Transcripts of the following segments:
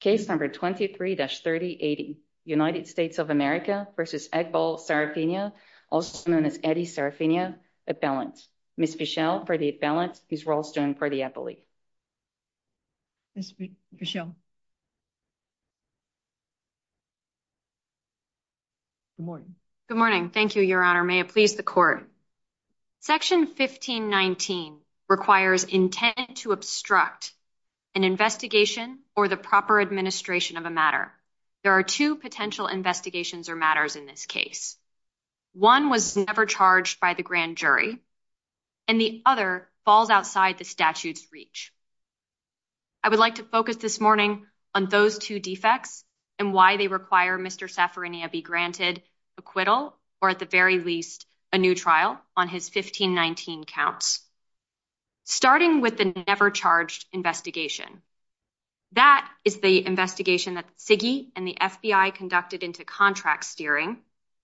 Case number 23-3080. United States of America v. Eghbal Saffarinia, also known as Eddie Saffarinia, at balance. Ms. Fischel for the at balance, Ms. Rolston for the appellee. Ms. Fischel. Good morning. Good morning. Thank you, Your Honor. May it please the Court. Section 1519 requires intent to obstruct an investigation or the proper administration of a matter. There are two potential investigations or matters in this case. One was never charged by the grand jury, and the other falls outside the statute's reach. I would like to focus this morning on those two defects and why they require Mr. Saffarinia be on his 1519 counts, starting with the never charged investigation. That is the investigation that the CIGI and the FBI conducted into contract steering,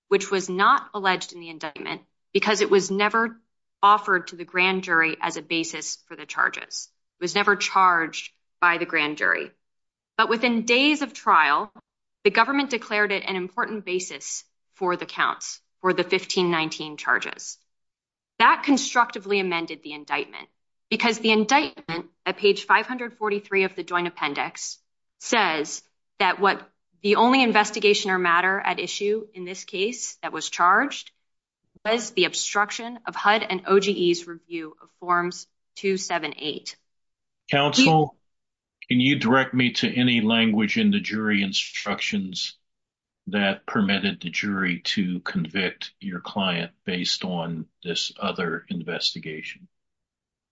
which was not alleged in the indictment because it was never offered to the grand jury as a basis for the charges. It was never charged by the grand jury. But within days of trial, the government declared it an important basis for the counts, for the 1519 charges. That constructively amended the indictment, because the indictment at page 543 of the joint appendix says that what the only investigation or matter at issue in this case that was charged was the obstruction of HUD and OGE's review of Forms 278. Counsel, can you direct me to any language in the jury instructions that permitted the jury to convict your client based on this other investigation?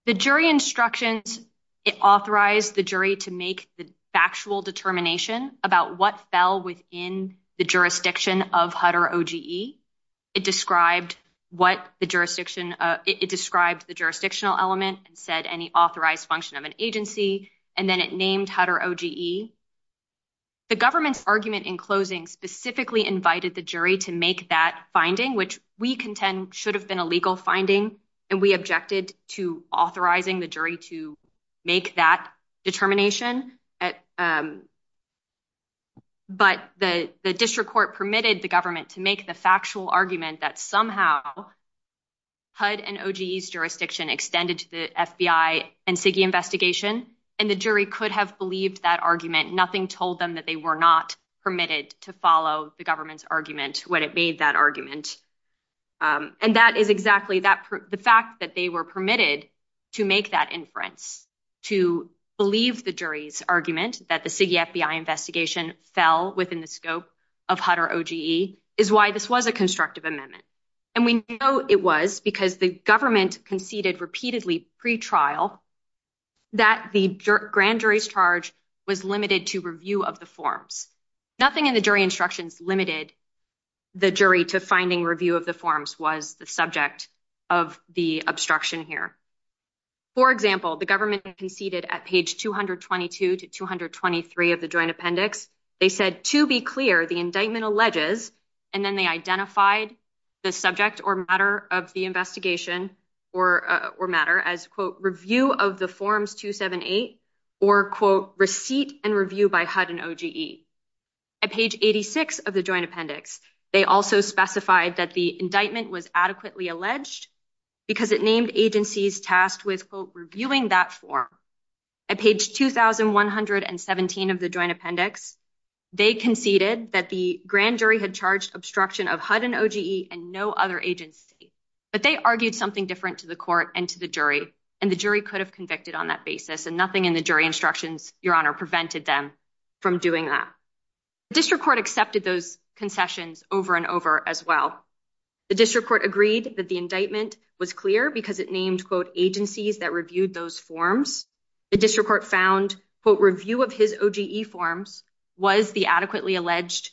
The jury instructions, it authorized the jury to make the factual determination about what fell within the jurisdiction of HUD or OGE. It described the jurisdictional element and said any authorized function of an agency, and then it named HUD or OGE. The government's argument in closing specifically invited the jury to make that finding, which we contend should have been a legal finding, and we objected to authorizing the jury to make that determination. But the district court permitted the government to make the factual argument that somehow HUD and OGE's jurisdiction extended to the FBI and CIGI investigation, and the jury could have believed that argument. Nothing told them that they were not permitted to follow the government's argument when it made that argument. And that is exactly the fact that they were permitted to make that inference, to believe the jury's argument that the CIGI FBI investigation fell within the scope of HUD or OGE is why this was a constructive amendment. And we know it was because the government conceded repeatedly pre-trial that the grand jury's charge was limited to review of the forms. Nothing in the jury instructions limited the jury to finding review of the forms was the subject of the obstruction here. For example, the government conceded at page 222 to 223 of the joint appendix. They said, to be clear, the indictment alleges, and then they or matter as, quote, review of the forms 278, or, quote, receipt and review by HUD and OGE. At page 86 of the joint appendix, they also specified that the indictment was adequately alleged because it named agencies tasked with, quote, reviewing that form. At page 2117 of the joint appendix, they conceded that the grand jury had charged obstruction of HUD and OGE and no other agency. But they argued something different to the court and to the jury, and the jury could have convicted on that basis. And nothing in the jury instructions, Your Honor, prevented them from doing that. The district court accepted those concessions over and over as well. The district court agreed that the indictment was clear because it named, quote, agencies that reviewed those forms. The district court found, quote, review of his OGE forms was the adequately alleged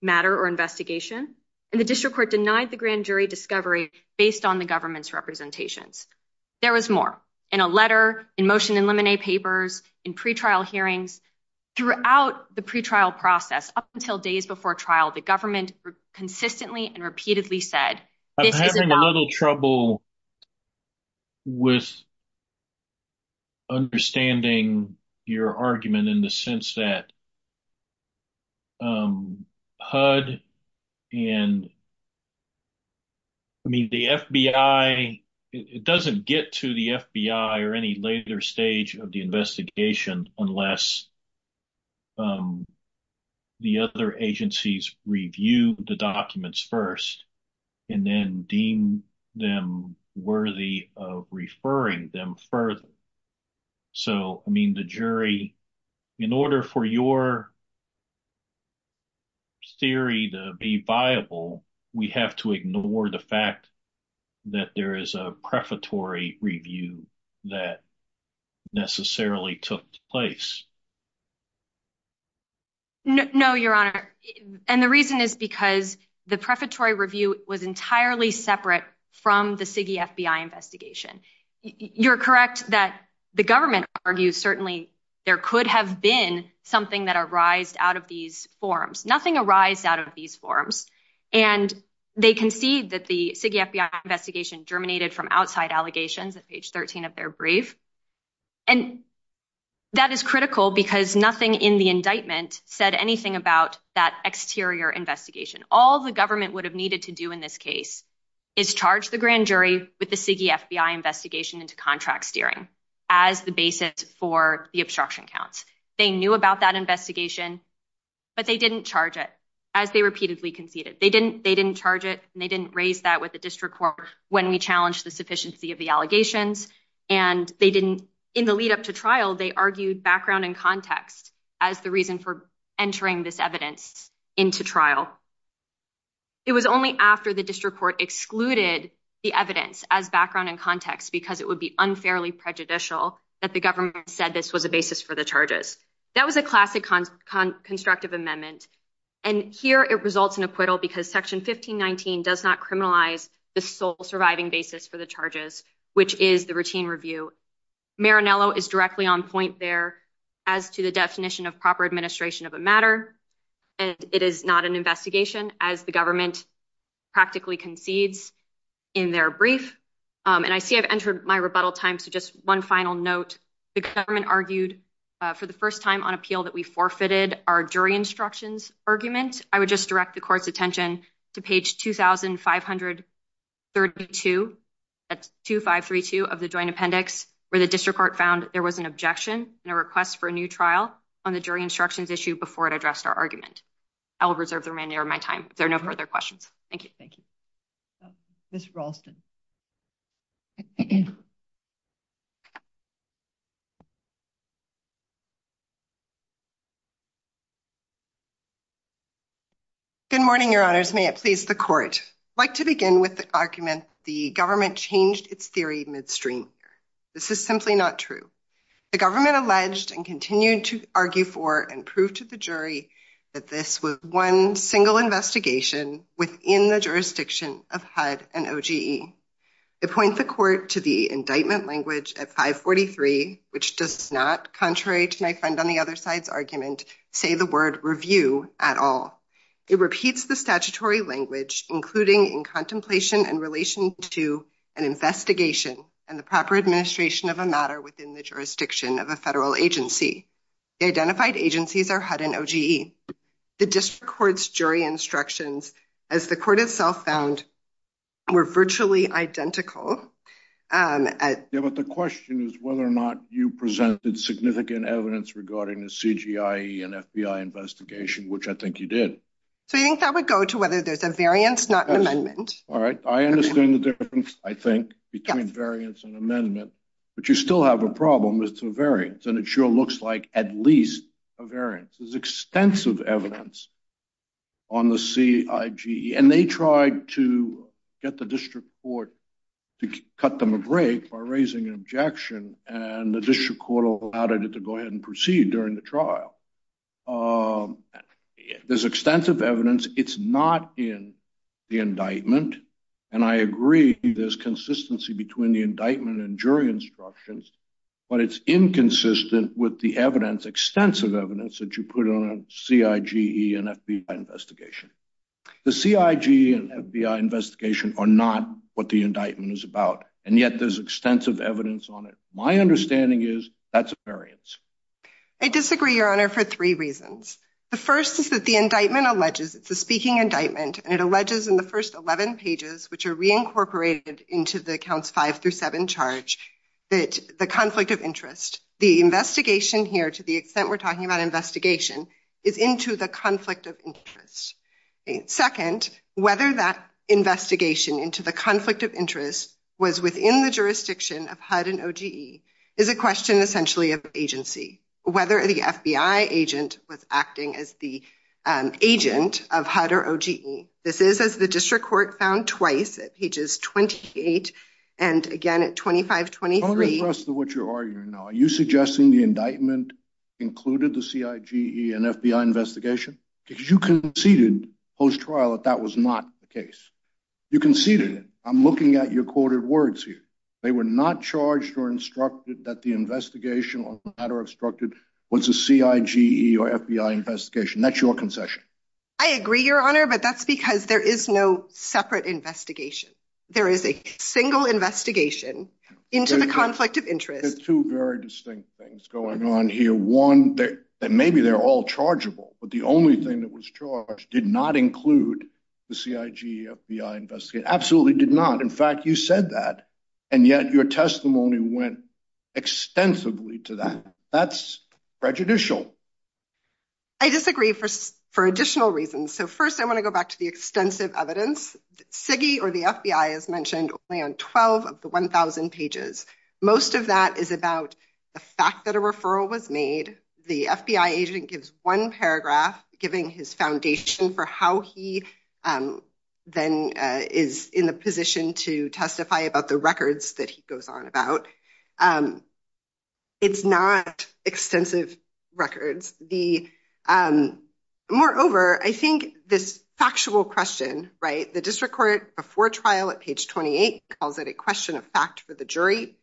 matter or investigation, and the district court denied the grand jury discovery based on the government's representations. There was more. In a letter, in motion and lemonade papers, in pretrial hearings, throughout the pretrial process, up until days before trial, the government consistently and repeatedly said, this is- I'm having a little trouble with understanding your argument in the sense that HUD and, I mean, the FBI, it doesn't get to the FBI or any later stage of the investigation unless the other agencies review the documents first and then deem them worthy of referring them further. So, I mean, the jury, in order for your theory to be viable, we have to ignore the fact that there is a prefatory review that necessarily took place. No, your honor. And the reason is because the prefatory review was entirely separate from the CIGI FBI investigation. You're correct that the government argues certainly there could have been something that arised out of these forms. Nothing arised out of these forms. And they concede that the CIGI FBI investigation germinated from outside allegations at page 13 of their brief. And that is critical because nothing in the indictment said anything about that exterior investigation. All the government would have needed to do in this case is charge the grand jury with the CIGI FBI investigation into contract steering as the basis for the obstruction counts. They knew about that investigation, but they didn't charge it as they repeatedly conceded. They didn't charge it and they didn't raise that with the district court when we challenged the sufficiency of the allegations. And in the lead up to trial, they argued background and context as the reason for entering this evidence into trial. It was only after the district court excluded the evidence as background and context because it would be unfairly prejudicial that the government said this was a basis for the charges. That was a classic constructive amendment. And here it results in acquittal because section 1519 does not criminalize the sole surviving basis for the charges, which is the routine review. Marinello is directly on point there as to the definition of proper administration of a matter. And it is not an investigation as the government practically concedes in their brief. And I see I've entered my rebuttal time. So just one final note, the government argued for the first time on appeal that we forfeited our jury instructions argument. I would just direct the court's attention to page 2532 at 2532 of the joint appendix, where the district court found there was an objection and a request for a new trial on the jury instructions issue before it addressed our argument. I will reserve the remainder of my time. There are no further questions. Thank you. Thank you, Mr Ralston. Good morning, Your Honors. May it please the court. I'd like to begin with the argument the government changed its theory midstream. This is simply not true. The government alleged and continued to argue for and prove to the jury that this was one single investigation within the jurisdiction of HUD and OGE. It points the court to the indictment language at 543, which does not, contrary to my friend on the other side's argument, say the word review at all. It repeats the statutory language, including in contemplation in relation to an investigation and the proper administration of a matter within the jurisdiction of a federal agency. Identified agencies are HUD and OGE. The district court's jury instructions, as the court itself found, were virtually identical. Yeah, but the question is whether or not you presented significant evidence regarding the CGIE and FBI investigation, which I think you did. So I think that would go to whether there's a variance, not an amendment. All right. I understand the difference, I think, between variance and amendment, but you still have a problem. It's a variance, and it sure looks like at least a variance. There's extensive evidence on the CIGE, and they tried to get the district court to cut them a break by raising an objection, and the district court allowed it to go ahead and proceed during the trial. There's extensive evidence. It's not in the indictment, and I agree there's consistency between the indictment and jury instructions, but it's inconsistent with the evidence, extensive evidence, that you put on a CIGE and FBI investigation. The CIGE and FBI investigation are not what the indictment is about, and yet there's extensive evidence on it. My understanding is that's a variance. I disagree, your honor, for three reasons. The first is that the indictment alleges, it's a speaking indictment, and it alleges in the first 11 pages, which are reincorporated into the counts five through seven charge, that the conflict of interest, the investigation here, to the extent we're talking about investigation, is into the conflict of interest. Second, whether that investigation into the conflict of interest was within the jurisdiction of HUD and OGE is a question essentially of agency, whether the FBI agent was acting as the agent of HUD or OGE. This is as the district court found twice at pages 28 and again at 2523. I'm not impressed with what you're arguing now. Are you suggesting the indictment included the CIGE and FBI investigation? Because you conceded post-trial that that was not the case. You conceded it. I'm looking at your quoted words here. They were not charged or instructed that the investigation or matter instructed was a CIGE or FBI investigation. That's your concession. I agree, your honor, but that's because there is no separate investigation. There is a single investigation into the conflict of interest. There's two very distinct things going on here. One, that maybe they're all chargeable, but the only thing that was charged did not include the CIGE FBI investigation. Absolutely did not. In fact, you said that and yet your testimony went extensively to that. That's prejudicial. I disagree for additional reasons. So first, I want to go back to the extensive evidence. CIGE or the FBI is mentioned only on 12 of the 1,000 pages. Most of that is about the fact that a referral was made. The FBI agent gives one paragraph giving his foundation for how he then is in the position to testify about the records that he goes on about. It's not extensive records. Moreover, I think this factual question, right, the district court before trial at page 28 calls it a question of fact for the jury.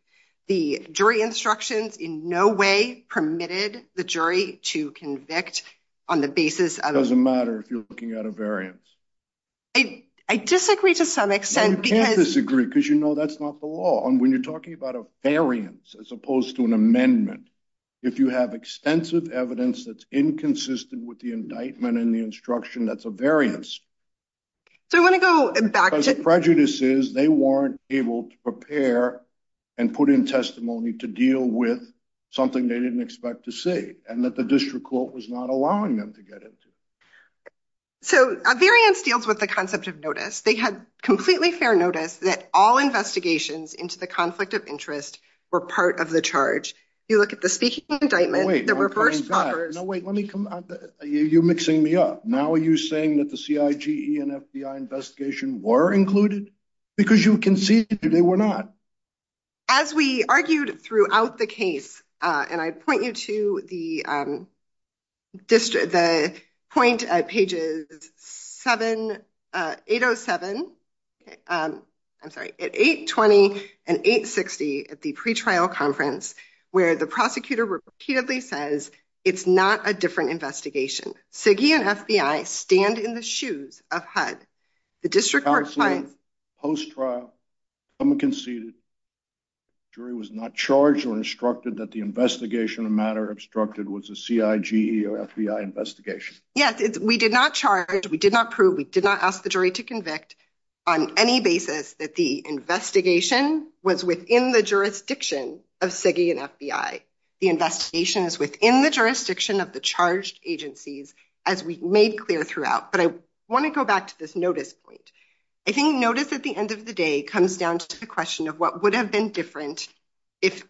The jury instructions in no way permitted the jury to convict on the basis of- Doesn't matter if you're looking at a variance. I disagree to some extent because- When you're talking about a variance as opposed to an amendment, if you have extensive evidence that's inconsistent with the indictment and the instruction, that's a variance. I want to go back to- Because the prejudice is they weren't able to prepare and put in testimony to deal with something they didn't expect to see and that the district court was not allowing them to get into. A variance deals with the concept of notice. They had completely fair notice that all investigations into the conflict of interest were part of the charge. You look at the speaking indictment- No, wait. Let me come- You're mixing me up. Now, are you saying that the CIG and FBI investigation were included? Because you can see that they were not. As we argued throughout the case, and I'd point you to the point at pages 807, I'm sorry, at 820 and 860 at the pre-trial conference where the prosecutor repeatedly says, it's not a different investigation. CIG and FBI stand in the shoes of HUD. The district court finds- Post-trial, someone conceded, jury was not charged or instructed that the investigation of the matter obstructed was a CIG or FBI investigation. Yes. We did not charge. We did not prove. We did not ask the jury to convict on any basis that the investigation was within the jurisdiction of CIG and FBI. The investigation is within the jurisdiction of the charged agencies as we made clear throughout. But I want to go back to this notice point. I think notice at the end of the day comes down to the question of what would have been different if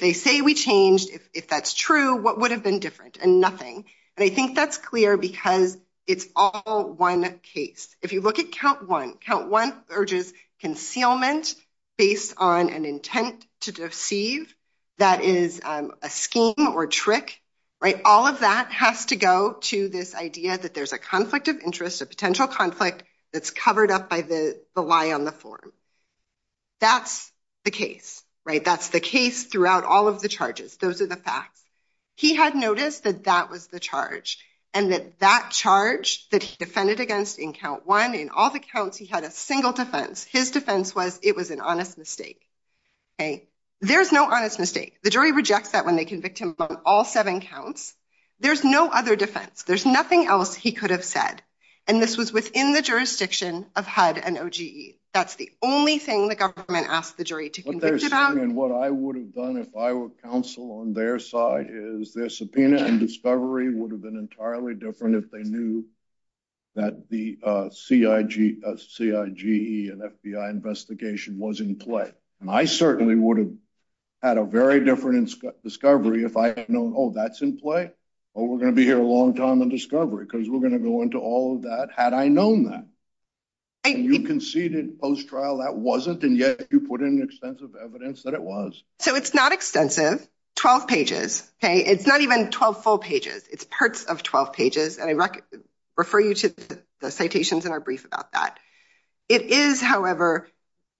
they say we changed, if that's true, what would have been different? And nothing. And I think that's clear because it's all one case. If you look at count one, count one urges concealment based on an intent to deceive that is a scheme or trick. All of that has to go to this idea that there's a conflict of interest, a potential conflict that's covered up by the on the form. That's the case, right? That's the case throughout all of the charges. Those are the facts. He had noticed that that was the charge and that that charge that he defended against in count one, in all the counts, he had a single defense. His defense was it was an honest mistake. There's no honest mistake. The jury rejects that when they convict him on all seven counts. There's no other defense. There's nothing else he could have said. And this was within the that's the only thing the government asked the jury to. And what I would have done if I were counsel on their side is their subpoena and discovery would have been entirely different if they knew that the CIG, CIG and FBI investigation was in play. And I certainly would have had a very different discovery if I had known, oh, that's in play. Oh, we're going to be here a long time and discovery because we're going to go into all that had I known that. And you conceded post trial that wasn't and yet you put in extensive evidence that it was. So it's not extensive. Twelve pages. It's not even twelve full pages. It's parts of twelve pages. And I refer you to the citations in our brief about that. It is, however,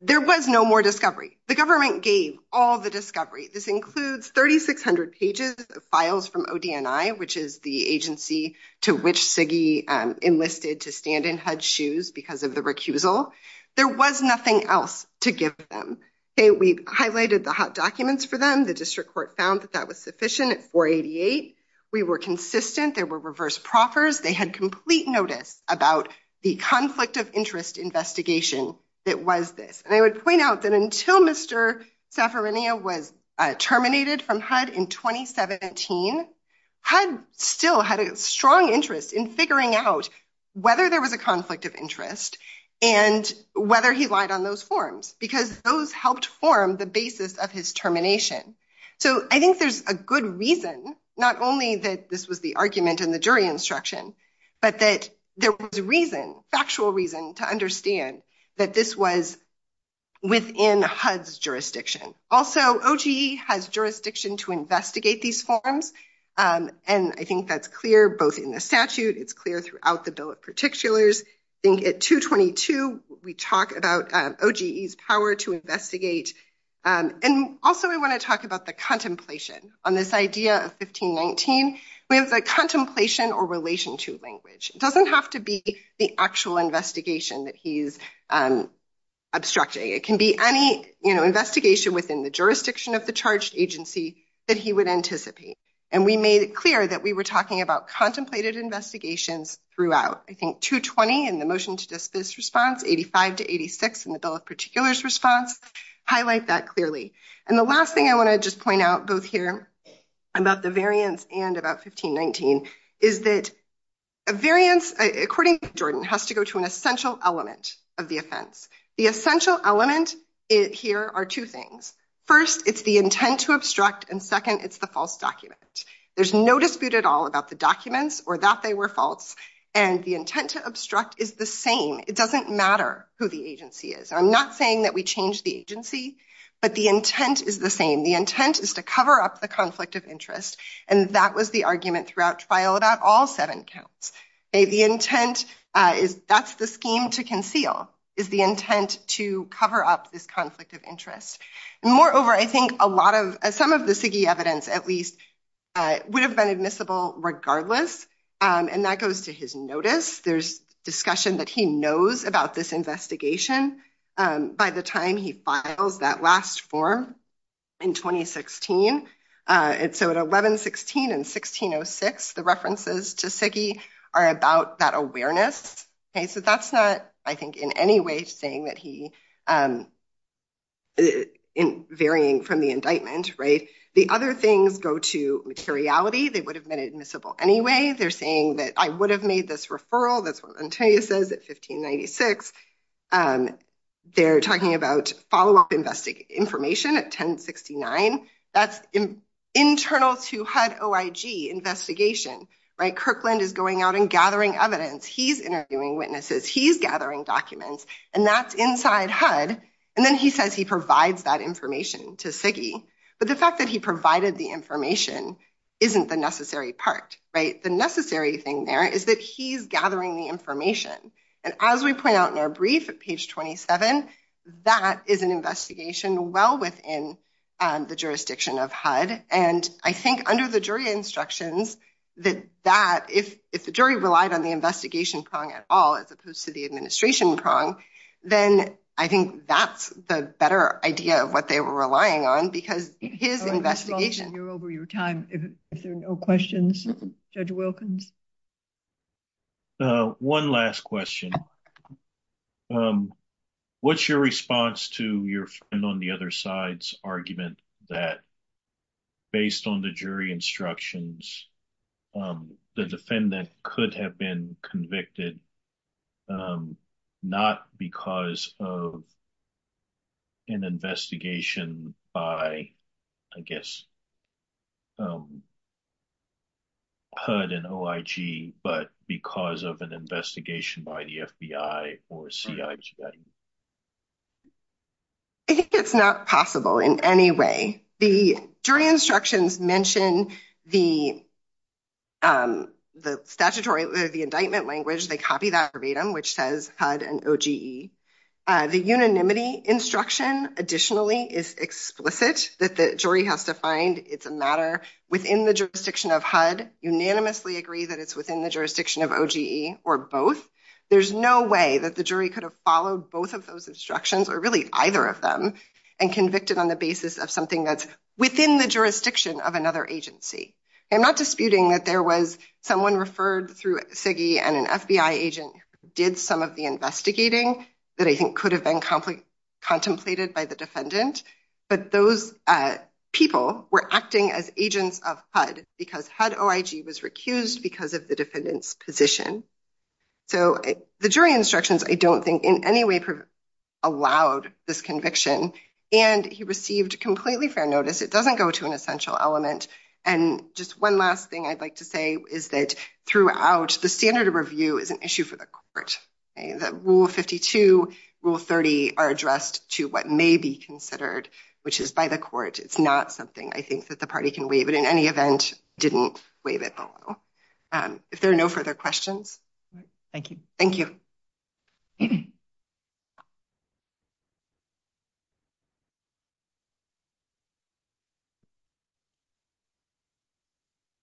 there was no more discovery. The government gave all the discovery. This did to stand in HUD's shoes because of the recusal. There was nothing else to give them. We've highlighted the hot documents for them. The district court found that that was sufficient at 488. We were consistent. There were reverse proffers. They had complete notice about the conflict of interest investigation. It was this. And I would point out that until Mr. was terminated from HUD in 2017, HUD still had a strong interest in figuring out whether there was a conflict of interest and whether he lied on those forms because those helped form the basis of his termination. So I think there's a good reason not only that this was the argument in the jury instruction, but that there was reason, factual reason to understand that this was within HUD's jurisdiction. Also, OGE has jurisdiction to investigate these forms. And I think that's clear both in the statute. It's clear throughout the bill of particulars. I think at 222, we talk about OGE's power to investigate. And also, I want to talk about the contemplation on this idea of 1519. We have the contemplation or relation to language. It can be any investigation within the jurisdiction of the charged agency that he would anticipate. And we made it clear that we were talking about contemplated investigations throughout. I think 220 in the motion to dismiss response, 85 to 86 in the bill of particulars response, highlight that clearly. And the last thing I want to just point out both here about the variance and about 1519 is that a variance, according to Jordan, has to go to an essential element of the offense. The essential element here are two things. First, it's the intent to obstruct. And second, it's the false document. There's no dispute at all about the documents or that they were false. And the intent to obstruct is the same. It doesn't matter who the agency is. I'm not saying that we changed the agency, but the intent is the same. The intent is to cover up the conflict of interest. And that was the argument throughout trial about all seven counts. The intent is that's the scheme to conceal is the intent to cover up this conflict of interest. And moreover, I think a lot of some of the evidence at least would have been admissible regardless. And that goes to his notice. There's discussion that he knows about this investigation by the time he files that last form in 2016. And so at 11-16 and 16-06, the references to Siggy are about that awareness. So that's not, I think, in any way saying that he varying from the indictment. The other things go to materiality. They would have been admissible anyway. They're saying that I would have made this referral. That's what Antonio says at 1596. And they're talking about follow-up information at 1069. That's internal to HUD-OIG investigation. Right? Kirkland is going out and gathering evidence. He's interviewing witnesses. He's gathering documents. And that's inside HUD. And then he says he provides that information to Siggy. But the fact that he provided the information isn't the necessary part, right? The necessary thing there is that he's gathering the information. And as we point out in our brief at page 27, that is an investigation well within the jurisdiction of HUD. And I think under the jury instructions that if the jury relied on the investigation prong at all as opposed to the administration prong, then I think that's the better idea of what they were relying on because his investigation... You're over your time. If there are no questions, Judge Wilkins. One last question. What's your response to your friend on the other side's argument that based on the jury instructions, the defendant could have been convicted not because of an investigation by, I guess, HUD and OIG, but because of an investigation by the FBI or CIG? I think it's not possible in any way. The jury instructions mention the indictment language. They copy that verbatim, which says HUD and OGE. The unanimity instruction, additionally, is explicit that the jury has to find it's a matter within the jurisdiction of HUD, unanimously agree that it's within the jurisdiction of OGE or both. There's no way that the jury could have followed both of those instructions or really either of them and convicted on the basis of something that's within the jurisdiction of another agency. I'm not disputing that there was someone referred through CIG and an FBI agent who did some of the investigating that I think could have been contemplated by the defendant, but those people were acting as agents of HUD because HUD OIG was recused because of the defendant's position. So the jury instructions, I don't think in any way allowed this conviction, and he received completely fair notice. It doesn't go to an essential element. And just one last thing I'd like to say is that throughout, the standard of review is an issue for the court. Rule 52, Rule 30 are addressed to what may be considered, which is by the court. It's not something I think that the party can waive, but in any event, didn't waive it below. If there are no further questions. Thank you. Can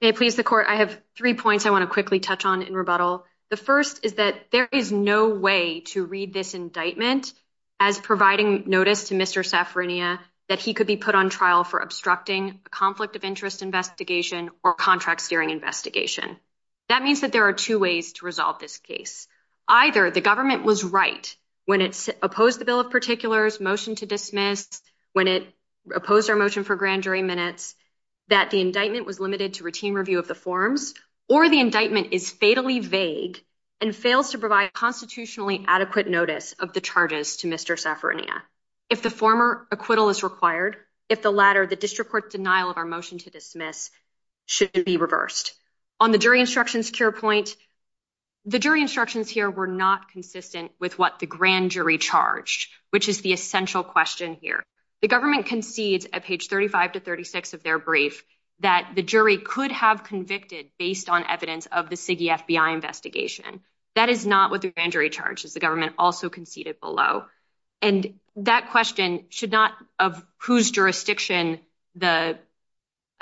I please, the court, I have three points I want to quickly touch on in rebuttal. The first is that there is no way to read this indictment as providing notice to Mr. Safrania that he could be put on trial for obstructing a conflict of interest investigation or contract-steering investigation. That means that there are two ways to resolve this case. One is that there either the government was right when it's opposed the bill of particulars motion to dismiss, when it opposed our motion for grand jury minutes, that the indictment was limited to routine review of the forms, or the indictment is fatally vague and fails to provide constitutionally adequate notice of the charges to Mr. Safrania. If the former acquittal is required, if the latter, the district court denial of our motion to dismiss should be reversed. On the jury instructions point, the jury instructions here were not consistent with what the grand jury charged, which is the essential question here. The government concedes at page 35 to 36 of their brief that the jury could have convicted based on evidence of the CIGI FBI investigation. That is not what the grand jury charges. The government also conceded below. And that question should not of whose jurisdiction the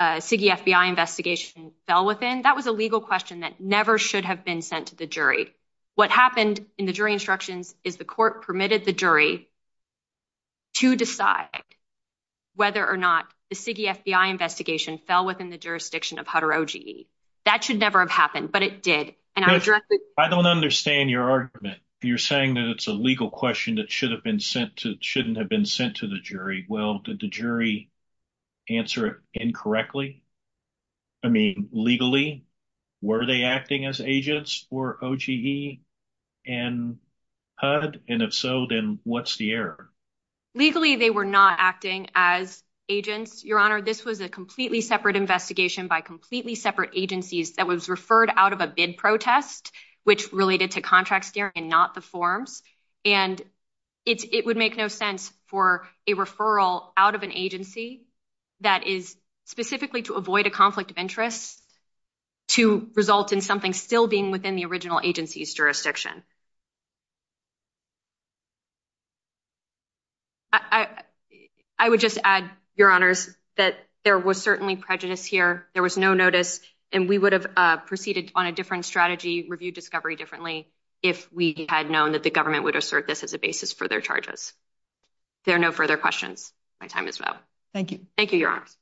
CIGI FBI investigation fell within. That was a legal question that never should have been sent to the jury. What happened in the jury instructions is the court permitted the jury to decide whether or not the CIGI FBI investigation fell within the jurisdiction of HUD or OGE. That should never have happened, but it did. I don't understand your argument. You're saying that it's a legal question that shouldn't have been sent to the jury. Well, did the jury answer it incorrectly? I mean, legally, were they acting as agents for OGE and HUD? And if so, then what's the error? Legally, they were not acting as agents. Your honor, this was a completely separate investigation by completely separate agencies that was referred out of a bid protest, which related to contract and not the forms. And it would make no sense for a referral out of an agency that is specifically to avoid a conflict of interest to result in something still being within the original agency's jurisdiction. I would just add, your honors, that there was certainly prejudice here. There was no notice. And we would have proceeded on a different strategy, reviewed discovery differently, if we had known that the government would assert this as a basis for their charges. There are no further questions. My time is up. Thank you. Thank you, your honors.